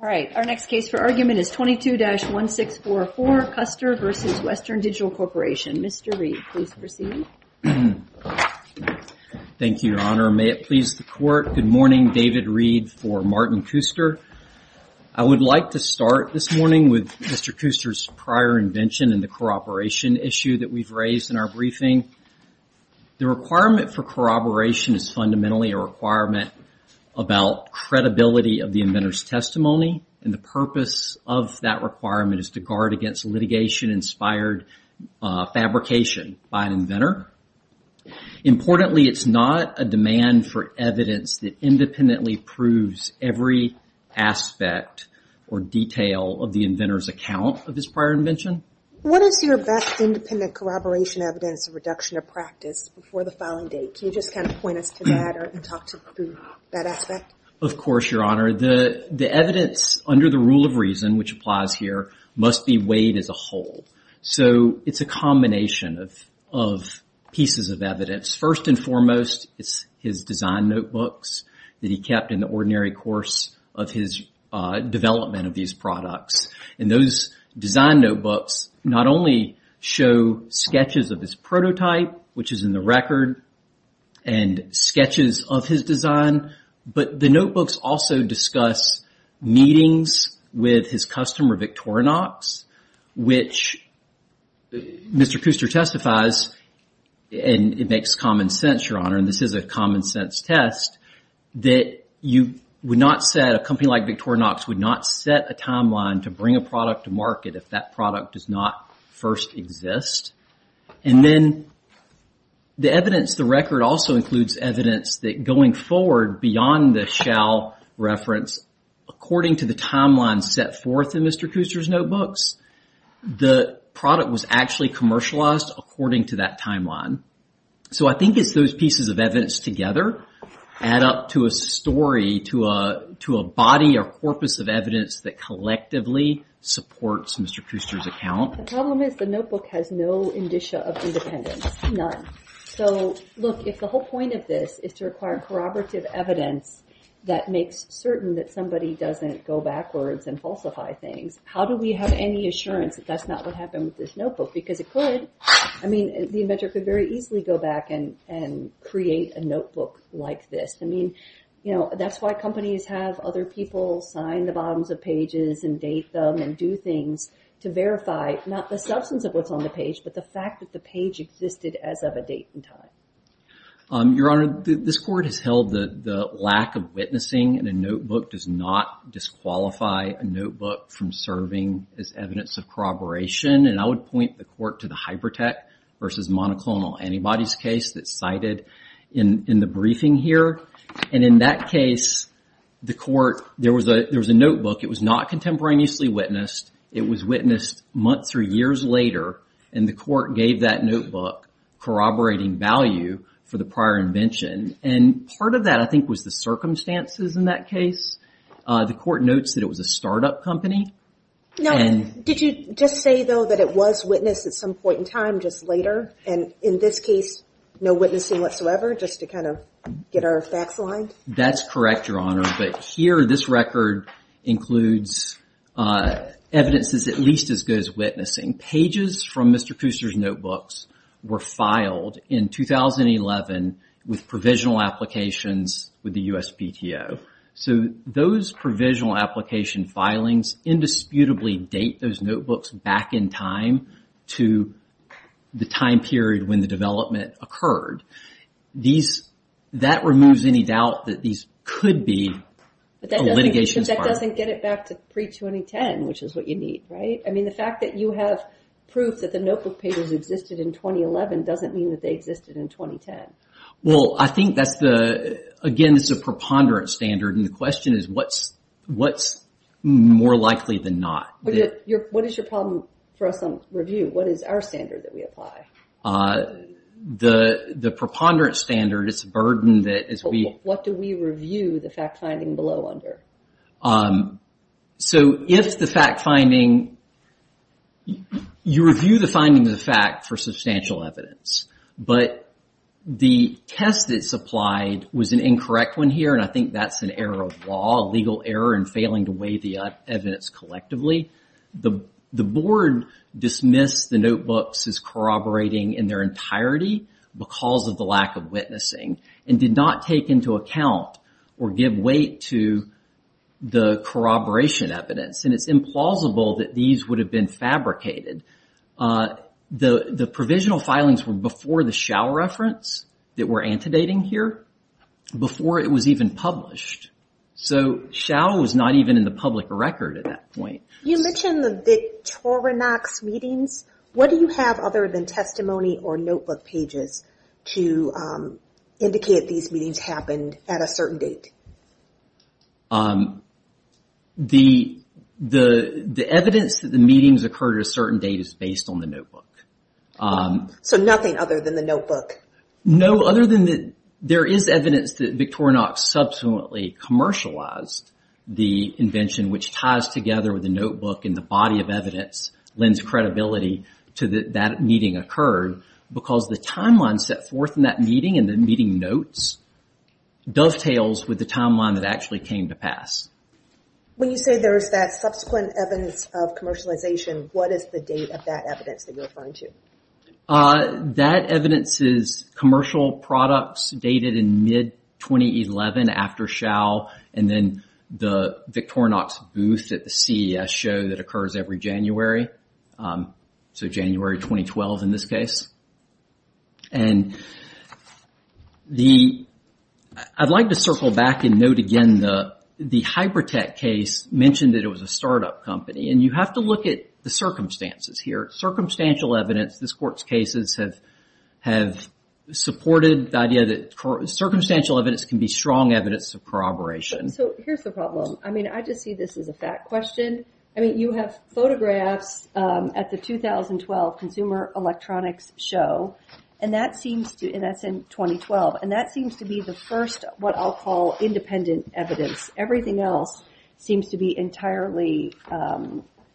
All right, our next case for argument is 22-1644, Kuster v. Western Digital Corporation. Mr. Reed, please proceed. Thank you, Your Honor. May it please the court. Good morning, David Reed for Martin Kuster. I would like to start this morning with Mr. Kuster's prior invention and the corroboration issue that we've raised in our briefing. The requirement for corroboration is fundamentally a requirement about credibility of the inventor's testimony, and the purpose of that requirement is to guard against litigation-inspired fabrication by an inventor. Importantly, it's not a demand for evidence that independently proves every aspect or detail of the inventor's account of his prior invention. What is your best independent corroboration evidence of reduction of practice before the filing date? Can you just kind of point us to that and talk to that aspect? Of course, Your Honor. The evidence under the rule of reason, which applies here, must be weighed as a whole. So it's a combination of pieces of evidence. First and foremost, it's his design notebooks that he kept in the ordinary course of his development of these products. And those design notebooks not only show sketches of his prototype, which is in the record, and sketches of his design, but the notebooks also discuss meetings with his customer, Victorinox, which Mr. Kuster testifies, and it makes common sense, Your Honor, and this is a common sense test, that you would not set, a company like Victorinox would not set a timeline to bring a product to market if that product does not first exist. And then the evidence, the record also includes evidence that going forward beyond the Shell reference, according to the timeline set forth in Mr. Kuster's notebooks, the product was actually commercialized according to that timeline. So I think it's those pieces of evidence together add up to a story, to a body or corpus of evidence that collectively supports Mr. Kuster's account. The problem is the notebook has no indicia of independence, none. So look, if the whole point of this is to acquire corroborative evidence that makes certain that somebody doesn't go backwards and falsify things, how do we have any assurance that that's not what happened with this notebook? Because it could, I mean, the inventor could very easily go back and create a notebook like this. I mean, that's why companies have other people sign the bottoms of pages and date them and do things to verify, not the substance of what's on the page, but the fact that the page existed as of a date and time. Your Honor, this Court has held that the lack of witnessing in a notebook does not disqualify a notebook from serving as evidence of corroboration. And I would point the Court to the Hypertech versus monoclonal antibodies case that's cited in the briefing here. And in that case, the Court, there was a notebook, it was not contemporaneously witnessed, it was witnessed months or years later, and the Court gave that notebook corroborating value for the prior invention. And part of that, I think, was the circumstances in that case. The Court notes that it was a startup company. Now, did you just say, though, that it was witnessed at some point in time, just later? And in this case, no witnessing whatsoever, just to kind of get our facts aligned? That's correct, Your Honor. But here, this record includes evidence that's at least as good as witnessing. Pages from Mr. Kuster's notebooks were filed in 2011 with provisional applications with the USPTO. So those provisional application filings indisputably date those notebooks back in time to the time period when the development occurred. These, that removes any doubt that these could be a litigation's part. But that doesn't get it back to pre-2010, which is what you need, right? I mean, the fact that you have proof that the notebook pages existed in 2011 doesn't mean that they existed in 2010. Well, I think that's the, again, it's a preponderant standard, and the question is what's more likely than not? What is your problem for us on review? What is our standard that we apply? The preponderant standard, it's a burden that, as we. What do we review the fact-finding below under? So if the fact-finding, you review the finding of the fact for substantial evidence. But the test that's applied was an incorrect one here, and I think that's an error of law, a legal error in failing to weigh the evidence collectively. The board dismissed the notebooks as corroborating in their entirety because of the lack of witnessing, and did not take into account or give weight to the corroboration evidence. And it's implausible that these would have been fabricated. The provisional filings were before the Schau reference that we're antedating here, before it was even published. So Schau was not even in the public record at that point. You mentioned the Victorinox meetings. What do you have other than testimony or notebook pages to indicate these meetings happened at a certain date? The evidence that the meetings occurred at a certain date is based on the notebook. So nothing other than the notebook? No, other than the, there is evidence that Victorinox subsequently commercialized the invention, which ties together with the notebook and the body of evidence, lends credibility to that meeting occurred, because the timeline set forth in that meeting and the meeting notes, dovetails with the timeline that actually came to pass. When you say there's that subsequent evidence of commercialization, what is the date of that evidence that you're referring to? That evidence is commercial products dated in mid-2011 after Schau, and then the Victorinox booth at the CES show that occurs every January. So January 2012 in this case. And the, I'd like to circle back and note again, the Hypertech case mentioned that it was a startup company, and you have to look at the circumstances here. Circumstantial evidence, this court's cases have supported the idea that circumstantial evidence can be strong evidence of corroboration. So here's the problem. I mean, I just see this as a fact question. I mean, you have photographs at the 2012 Consumer Electronics Show, and that seems to, and that's in 2012, and that seems to be the first, what I'll call independent evidence. Everything else seems to be entirely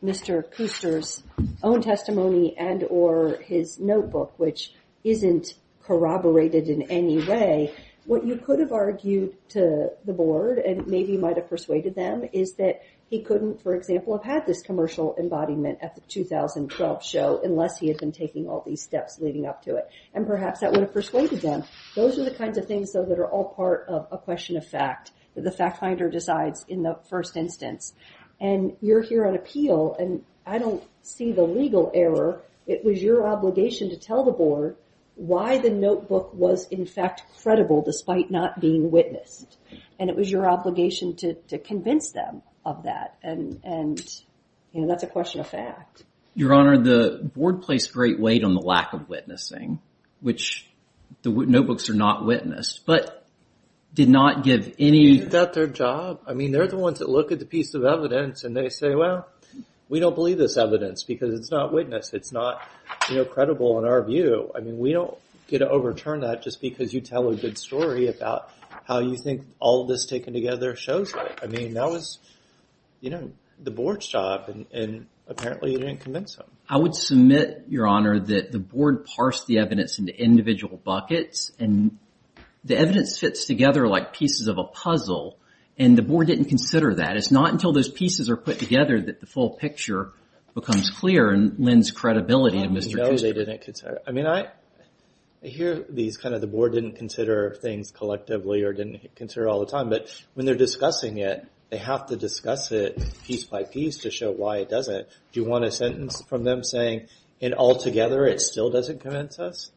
Mr. Kooster's own testimony and or his notebook, which isn't corroborated in any way. What you could have argued to the board, and maybe you might have persuaded them, is that he couldn't, for example, have had this commercial embodiment at the 2012 show unless he had been taking all these steps leading up to it. And perhaps that would have persuaded them. Those are the kinds of things, though, that are all part of a question of fact, that the fact finder decides in the first instance. And you're here on appeal, and I don't see the legal error. It was your obligation to tell the board why the notebook was, in fact, credible despite not being witnessed. And it was your obligation to convince them of that. And that's a question of fact. Your Honor, the board placed great weight on the lack of witnessing, which the notebooks are not witnessed, but did not give any- They did their job. I mean, they're the ones that look at the piece of evidence and they say, well, we don't believe this evidence because it's not witnessed. It's not credible in our view. I mean, we don't get to overturn that just because you tell a good story about how you think all of this taken together shows it. I mean, that was, you know, the board's job, and apparently you didn't convince them. I would submit, Your Honor, that the board parsed the evidence into individual buckets, and the evidence fits together like pieces of a puzzle, and the board didn't consider that. It's not until those pieces are put together that the full picture becomes clear and lends credibility to Mr. Kuster. No, they didn't consider it. I mean, I hear these kind of, the board didn't consider things collectively or didn't consider it all the time, but when they're discussing it, they have to discuss it piece by piece to show why it doesn't. Do you want a sentence from them saying, in altogether, it still doesn't convince us?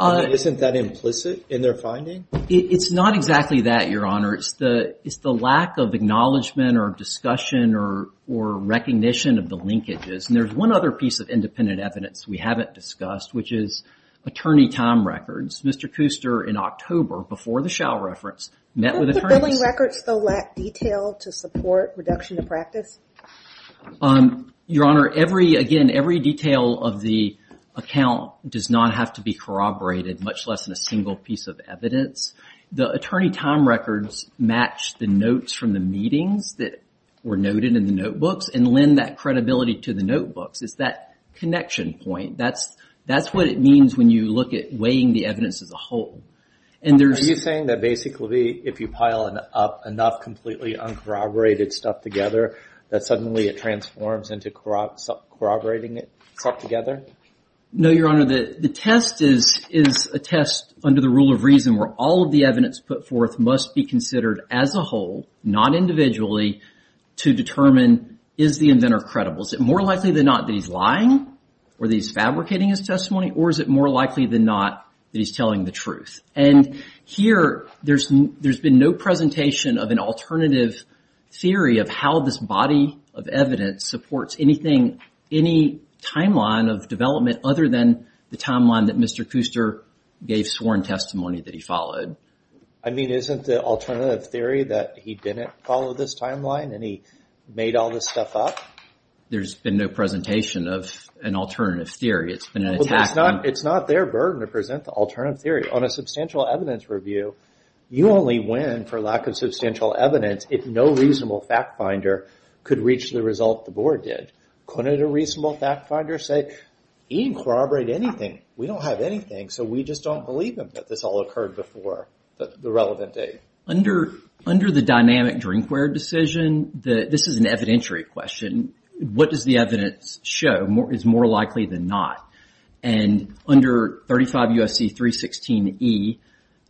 Isn't that implicit in their finding? It's not exactly that, Your Honor. It's the lack of acknowledgement or discussion or recognition of the linkages, and there's one other piece of independent evidence we haven't discussed, which is attorney time records. Mr. Kuster, in October, before the Schell reference, met with attorneys. Don't the billing records, though, lack detail to support reduction of practice? Your Honor, every, again, every detail of the account does not have to be corroborated, much less in a single piece of evidence. The attorney time records match the notes from the meetings that were noted in the notebooks and lend that credibility to the notebooks. It's that connection point. That's what it means when you look at weighing the evidence as a whole. And there's- Are you saying that basically, if you pile up enough completely uncorroborated stuff together, that suddenly it transforms into corroborating it together? No, Your Honor, the test is a test under the rule of reason where all of the evidence put forth must be considered as a whole, not individually, to determine, is the inventor credible? Is it more likely than not that he's lying? Or that he's fabricating his testimony? Or is it more likely than not that he's telling the truth? And here, there's been no presentation of an alternative theory of how this body of evidence supports anything, any timeline of development other than the timeline that Mr. Kuster gave sworn testimony that he followed. I mean, isn't the alternative theory that he didn't follow this timeline and he made all this stuff up? There's been no presentation of an alternative theory. It's been an attack on- It's not their burden to present the alternative theory. On a substantial evidence review, you only win for lack of substantial evidence if no reasonable fact finder could reach the result the board did. Couldn't a reasonable fact finder say, he didn't corroborate anything, we don't have anything, so we just don't believe him that this all occurred before the relevant date? Under the dynamic Drinkware decision, this is an evidentiary question, what does the evidence show is more likely than not? And under 35 U.S.C. 316e,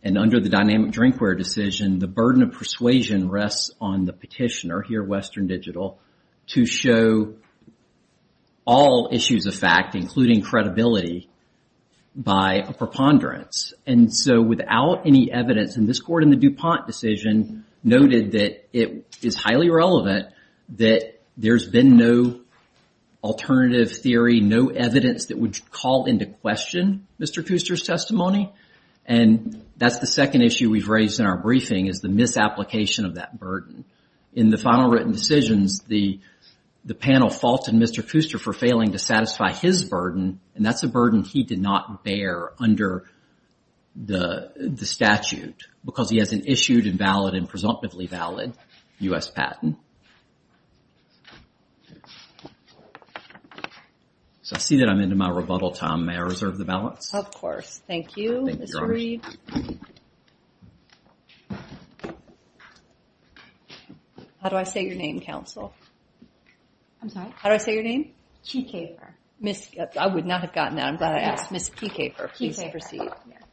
and under the dynamic Drinkware decision, the burden of persuasion rests on the petitioner here at Western Digital to show all issues of fact, including credibility, by a preponderance. And so without any evidence, and this court in the DuPont decision noted that it is highly relevant that there's been no alternative theory, no evidence that would call into question Mr. Kuster's testimony, and that's the second issue we've raised in our briefing is the misapplication of that burden. In the final written decisions, the panel faulted Mr. Kuster for failing to satisfy his burden, because he has an issued, invalid, and presumptively valid U.S. patent. So I see that I'm into my rebuttal time, may I reserve the balance? Of course, thank you, Mr. Reed. How do I say your name, counsel? I'm sorry? How do I say your name? Kee Kaper. I would not have gotten that, I'm glad I asked, Ms. Kee Kaper, please proceed.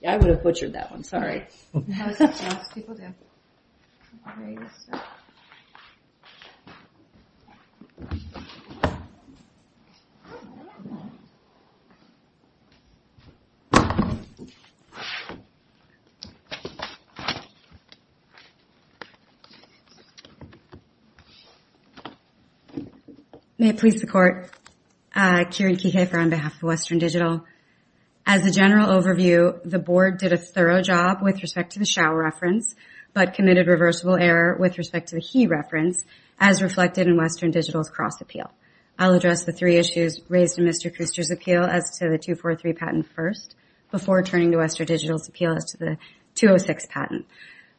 I would have butchered that one, sorry. That's what most people do. May it please the court, Kieran Kee Kaper on behalf of Western Digital. As a general overview, the board did a thorough job with respect to the shall reference, but committed reversible error with respect to the he reference, as reflected in Western Digital's cross appeal. I'll address the three issues raised in Mr. Kuster's appeal as to the 243 patent first, before turning to Western Digital's appeal as to the 206 patent.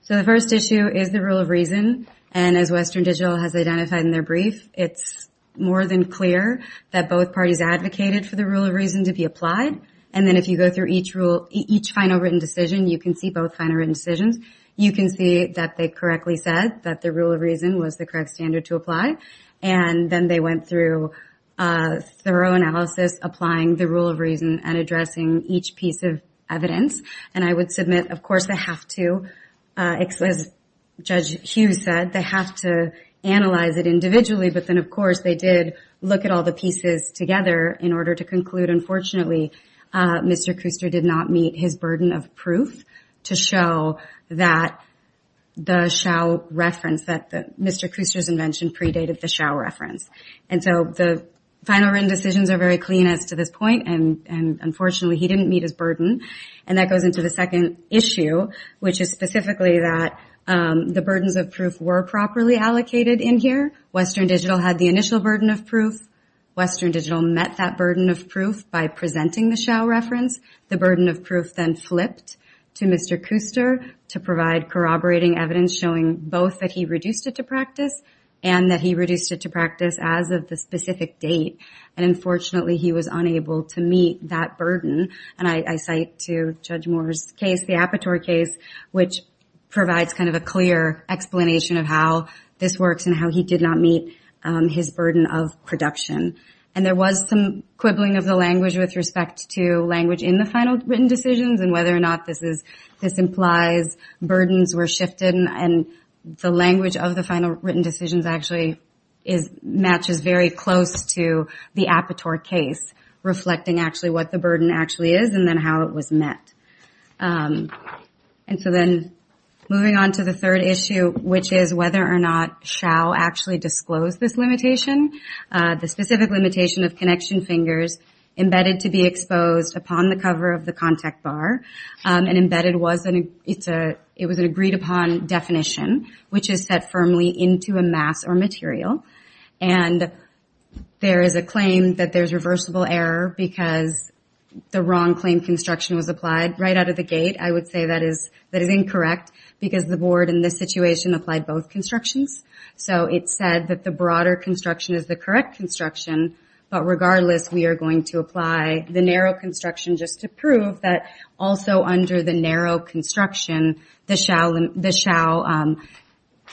So the first issue is the rule of reason, and as Western Digital has identified in their brief, it's more than clear that both parties advocated for the rule of reason to be applied, and then if you go through each rule, each final written decision, you can see both final written decisions, you can see that they correctly said that the rule of reason was the correct standard to apply, and then they went through a thorough analysis applying the rule of reason and addressing each piece of evidence, and I would submit, of course, they have to, as Judge Hughes said, they have to analyze it individually, but then of course they did look at all the pieces together in order to conclude, unfortunately, Mr. Kuster did not meet his burden of proof to show that the Xiao reference, that Mr. Kuster's invention predated the Xiao reference, and so the final written decisions are very clean as to this point, and unfortunately he didn't meet his burden, and that goes into the second issue, which is specifically that the burdens of proof were properly allocated in here, Western Digital had the initial burden of proof, Western Digital met that burden of proof by presenting the Xiao reference, the burden of proof then flipped to Mr. Kuster to provide corroborating evidence showing both that he reduced it to practice and that he reduced it to practice as of the specific date, and unfortunately he was unable to meet that burden, and I cite to Judge Moore's case, the Apatow case, which provides kind of a clear explanation of how this works and how he did not meet his burden of production, and there was some quibbling of the language with respect to language in the final written decisions and whether or not this implies burdens were shifted and the language of the final written decisions actually matches very close to the Apatow case, reflecting actually what the burden actually is and then how it was met, and so then moving on to the third issue, which is whether or not Xiao actually disclosed this limitation, the specific limitation of connection fingers embedded to be exposed upon the cover of the contact bar, and embedded was an agreed upon definition which is set firmly into a mass or material, and there is a claim that there's reversible error because the wrong claim construction was applied right out of the gate, I would say that is incorrect because the board in this situation applied both constructions, so it said that the broader construction is the correct construction, but regardless, we are going to apply the narrow construction just to prove that also under the narrow construction, the Xiao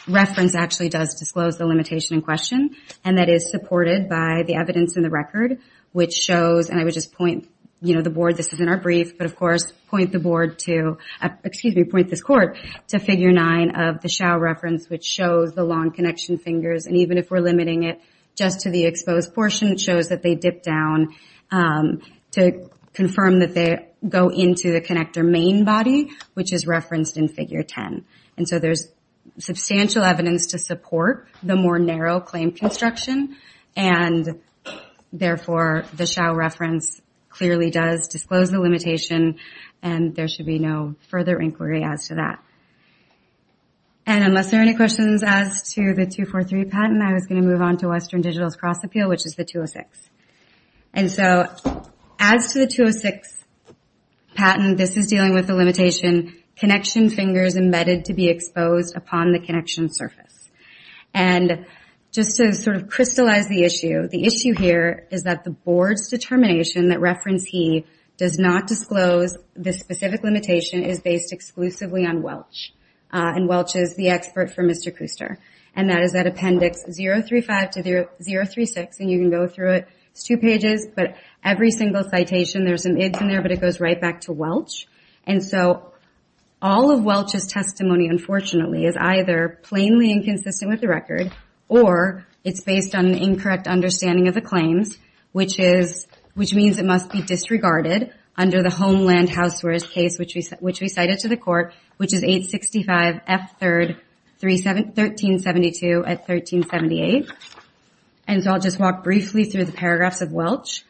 reference actually does disclose the limitation in question, and that is supported by the evidence in the record, which shows, and I would just point, you know, the board, this is in our brief, but of course, point the board to, excuse me, point this court to figure nine of the Xiao reference, which shows the long connection fingers, and even if we're limiting it just to the exposed portion, it shows that they dip down to confirm that they go into the connector main body, which is referenced in figure 10, and so there's substantial evidence to support the more narrow claim construction, and therefore, the Xiao reference clearly does disclose the limitation, and there should be no further inquiry as to that, and unless there are any questions as to the 243 patent, I was gonna move on to Western Digital's cross appeal, which is the 206, and so as to the 206 patent, this is dealing with the limitation, connection fingers embedded to be exposed upon the connection surface, and just to sort of crystallize the issue, the issue here is that the board's determination that reference he does not disclose the specific limitation is based exclusively on Welch, and Welch is the expert for Mr. Kuster, and that is that appendix 035 to 036, and you can go through it, it's two pages, but every single citation, there's an id in there, but it goes right back to Welch, and so all of Welch's testimony, unfortunately, is either plainly inconsistent with the record, or it's based on an incorrect understanding of the claims, which means it must be disregarded under the Homeland Housewares case, which we cited to the court, which is 865 F3rd 1372 at 1378, and so I'll just walk briefly through the paragraphs of Welch.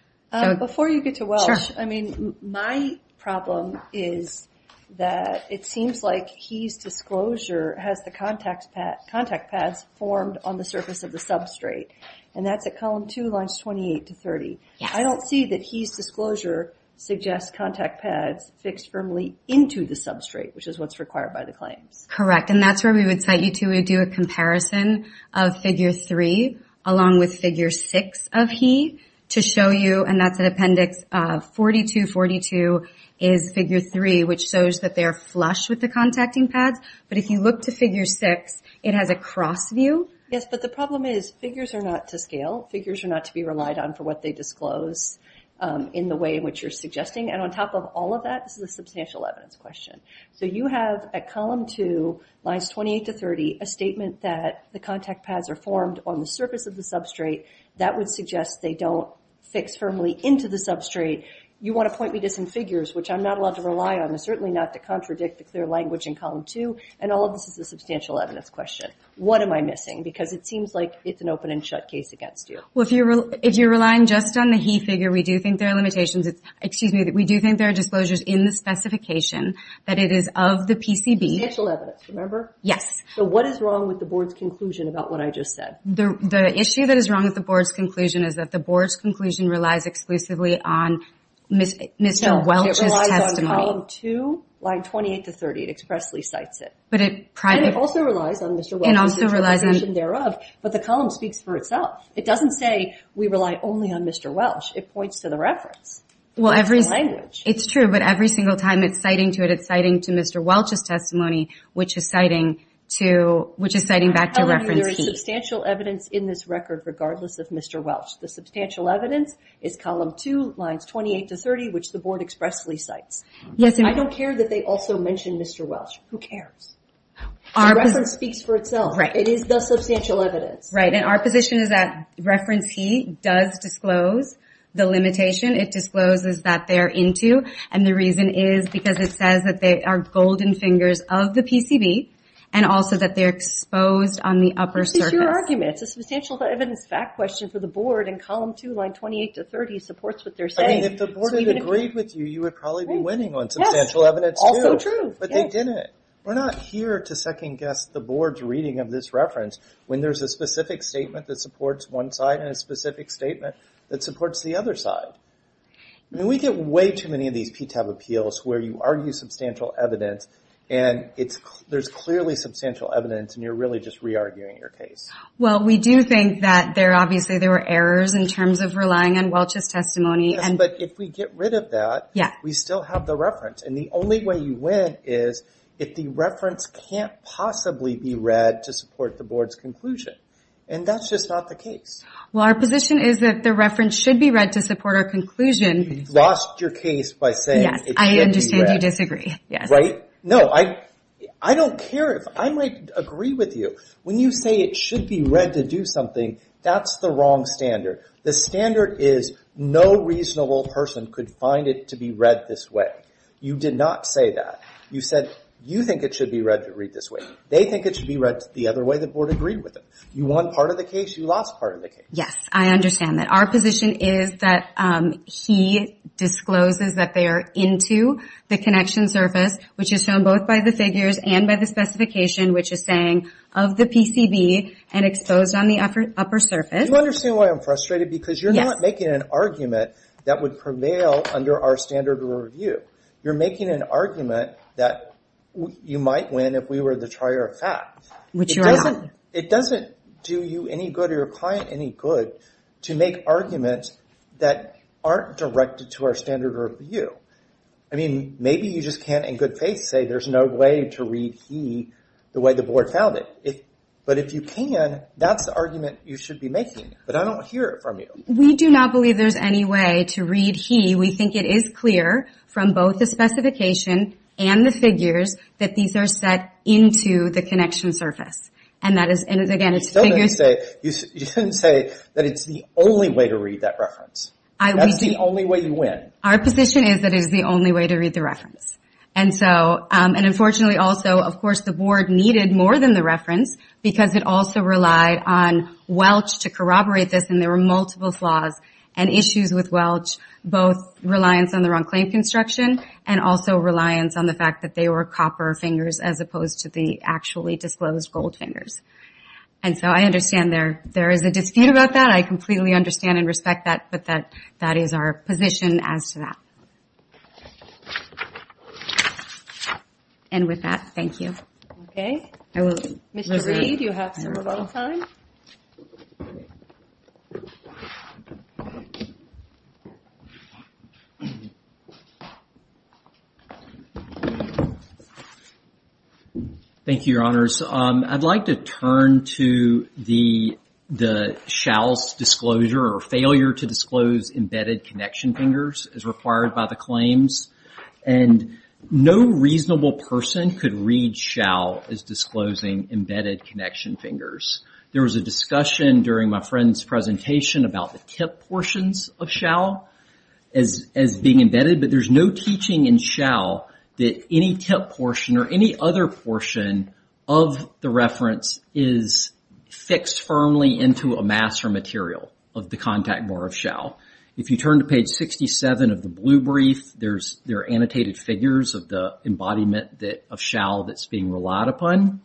Before you get to Welch, I mean, my problem is that it seems like he's disclosure has the contact pads formed on the surface of the substrate, and that's at column two, lines 28 to 30. I don't see that he's disclosure suggests contact pads fixed firmly into the substrate, which is what's required by the claims. Correct, and that's where we would cite you to do a comparison of figure three, along with figure six of he, to show you, and that's an appendix 4242 is figure three, which shows that they're flush with the contacting pads, but if you look to figure six, it has a cross view. Yes, but the problem is, figures are not to scale. Figures are not to be relied on for what they disclose, in the way in which you're suggesting, and on top of all of that, this is a substantial evidence question. So you have, at column two, lines 28 to 30, a statement that the contact pads are formed on the surface of the substrate. That would suggest they don't fix firmly into the substrate. You want to point me to some figures, which I'm not allowed to rely on, and certainly not to contradict the clear language in column two, and all of this is a substantial evidence question. What am I missing? Because it seems like it's an open and shut case against you. Well, if you're relying just on the he figure, we do think there are limitations. Excuse me, we do think there are disclosures in the specification, that it is of the PCB. Substantial evidence, remember? Yes. So what is wrong with the board's conclusion about what I just said? The issue that is wrong with the board's conclusion is that the board's conclusion relies exclusively on Mr. Welch's testimony. No, it relies on column two, line 28 to 30, it expressly cites it. But it private. And it also relies on Mr. Welch's testimony thereof, but the column speaks for itself. It doesn't say we rely only on Mr. Welch. It points to the reference. Well, it's true, but every single time it's citing to it, it's citing to Mr. Welch's testimony, which is citing to, which is citing back to reference P. There is substantial evidence in this record regardless of Mr. Welch. The substantial evidence is column two, lines 28 to 30, which the board expressly cites. Yes, and I don't care that they also mention Mr. Welch. Who cares? Our reference speaks for itself. It is the substantial evidence. Right, and our position is that reference he does disclose the limitation. It discloses that they're into, and the reason is because it says that they are golden fingers of the PCB, and also that they're exposed on the upper surface. This is your argument. It's a substantial evidence fact question for the board, and column two, line 28 to 30, supports what they're saying. I mean, if the board had agreed with you, you would probably be winning on substantial evidence too. Also true. But they didn't. We're not here to second guess the board's reading of this reference when there's a specific statement that supports one side, and a specific statement that supports the other side. I mean, we get way too many of these PTAB appeals where you argue substantial evidence, and there's clearly substantial evidence, and you're really just re-arguing your case. Well, we do think that there, obviously, there were errors in terms of relying on Welch's testimony. Yes, but if we get rid of that, we still have the reference, and the only way you win is if the reference can't possibly be read to support the board's conclusion, and that's just not the case. Well, our position is that the reference should be read to support our conclusion. You've lost your case by saying it should be read. Yes, I understand you disagree, yes. Right? No, I don't care if, I might agree with you. When you say it should be read to do something, that's the wrong standard. The standard is no reasonable person could find it to be read this way. You did not say that. You said you think it should be read to read this way. They think it should be read the other way the board agreed with them. You won part of the case, you lost part of the case. Yes, I understand that. Our position is that he discloses that they are into the connection surface, which is shown both by the figures and by the specification, which is saying of the PCB, and exposed on the upper surface. Do you understand why I'm frustrated? Because you're not making an argument that would prevail under our standard review. You're making an argument that you might win if we were the trier of fact. Which you are not. It doesn't do you any good, or your client any good, to make arguments that aren't directed to our standard review. I mean, maybe you just can't in good faith say there's no way to read he the way the board found it. But if you can, that's the argument you should be making. But I don't hear it from you. We do not believe there's any way to read he. We think it is clear, from both the specification and the figures, that these are set into the connection surface. And that is, again, it's figures. You shouldn't say that it's the only way to read that reference. That's the only way you win. Our position is that it is the only way to read the reference. And so, and unfortunately also, of course the board needed more than the reference, because it also relied on Welch to corroborate this, and there were multiple flaws and issues with Welch, both reliance on the wrong claim construction, and also reliance on the fact that they were copper fingers as opposed to the actually disclosed gold fingers. And so I understand there is a dispute about that. I completely understand and respect that, but that is our position as to that. And with that, thank you. Okay. Mr. Reed, you have some alone time. Thank you. Thank you, your honors. I'd like to turn to the Shou's disclosure, or failure to disclose embedded connection fingers as required by the claims. And no reasonable person could read Shou as disclosing embedded connection fingers. There was a discussion during my friend's presentation about the tip portions of Shou as being embedded, but there's no teaching in Shou that any tip portion, or any other portion of the reference is fixed firmly into a mass or material of the contact bar of Shou. If you turn to page 67 of the blue brief, there are annotated figures of the embodiment of Shou that's being relied upon.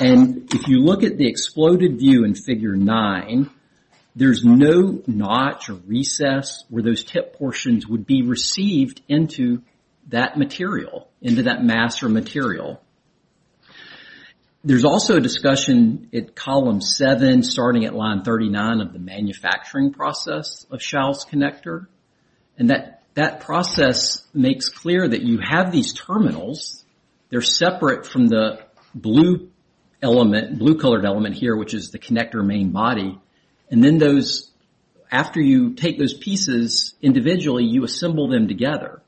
And if you look at the exploded view in figure nine, there's no notch or recess where those tip portions would be received into that material, into that mass or material. There's also a discussion at column seven, starting at line 39 of the manufacturing process of Shou's connector. And that process makes clear that you have these terminals. They're separate from the blue colored element here, which is the connector main body. And then those, after you take those pieces individually, you assemble them together.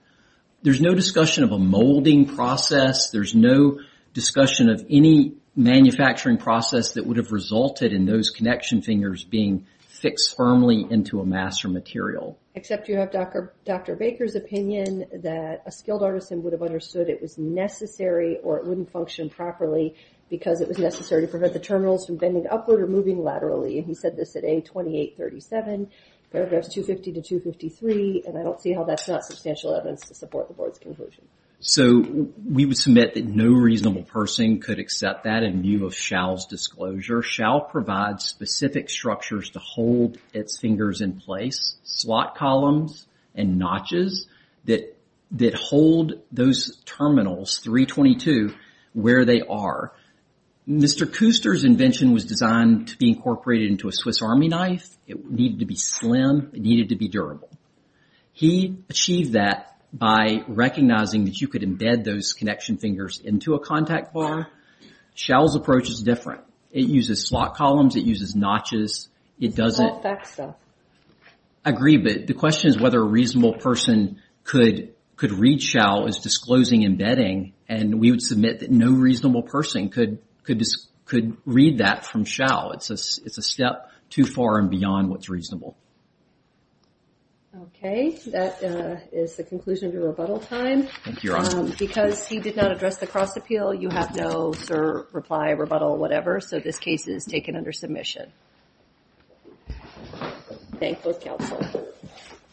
There's no discussion of a molding process. There's no discussion of any manufacturing process that would have resulted in those connection fingers being fixed firmly into a mass or material. Except you have Dr. Baker's opinion that a skilled artisan would have understood it was necessary or it wouldn't function properly because it was necessary to prevent the terminals from bending upward or moving laterally. And he said this at A2837, paragraphs 250 to 253. And I don't see how that's not substantial evidence to support the board's conclusion. So we would submit that no reasonable person could accept that in view of Shou's disclosure. Shou provides specific structures to hold its fingers in place. Slot columns and notches that hold those terminals, 322, where they are. Mr. Kooster's invention was designed to be incorporated into a Swiss Army knife. It needed to be slim, it needed to be durable. He achieved that by recognizing that you could embed those connection fingers into a contact bar. Shou's approach is different. It uses slot columns, it uses notches. It doesn't- It's all fax stuff. I agree, but the question is whether a reasonable person could read Shou as disclosing embedding and we would submit that no reasonable person could read that from Shou. It's a step too far and beyond what's reasonable. Okay, that is the conclusion of your rebuttal time. Thank you, Your Honor. Because he did not address the cross appeal, you have no sir, reply, rebuttal, whatever. So this case is taken under submission. Thank you, counsel.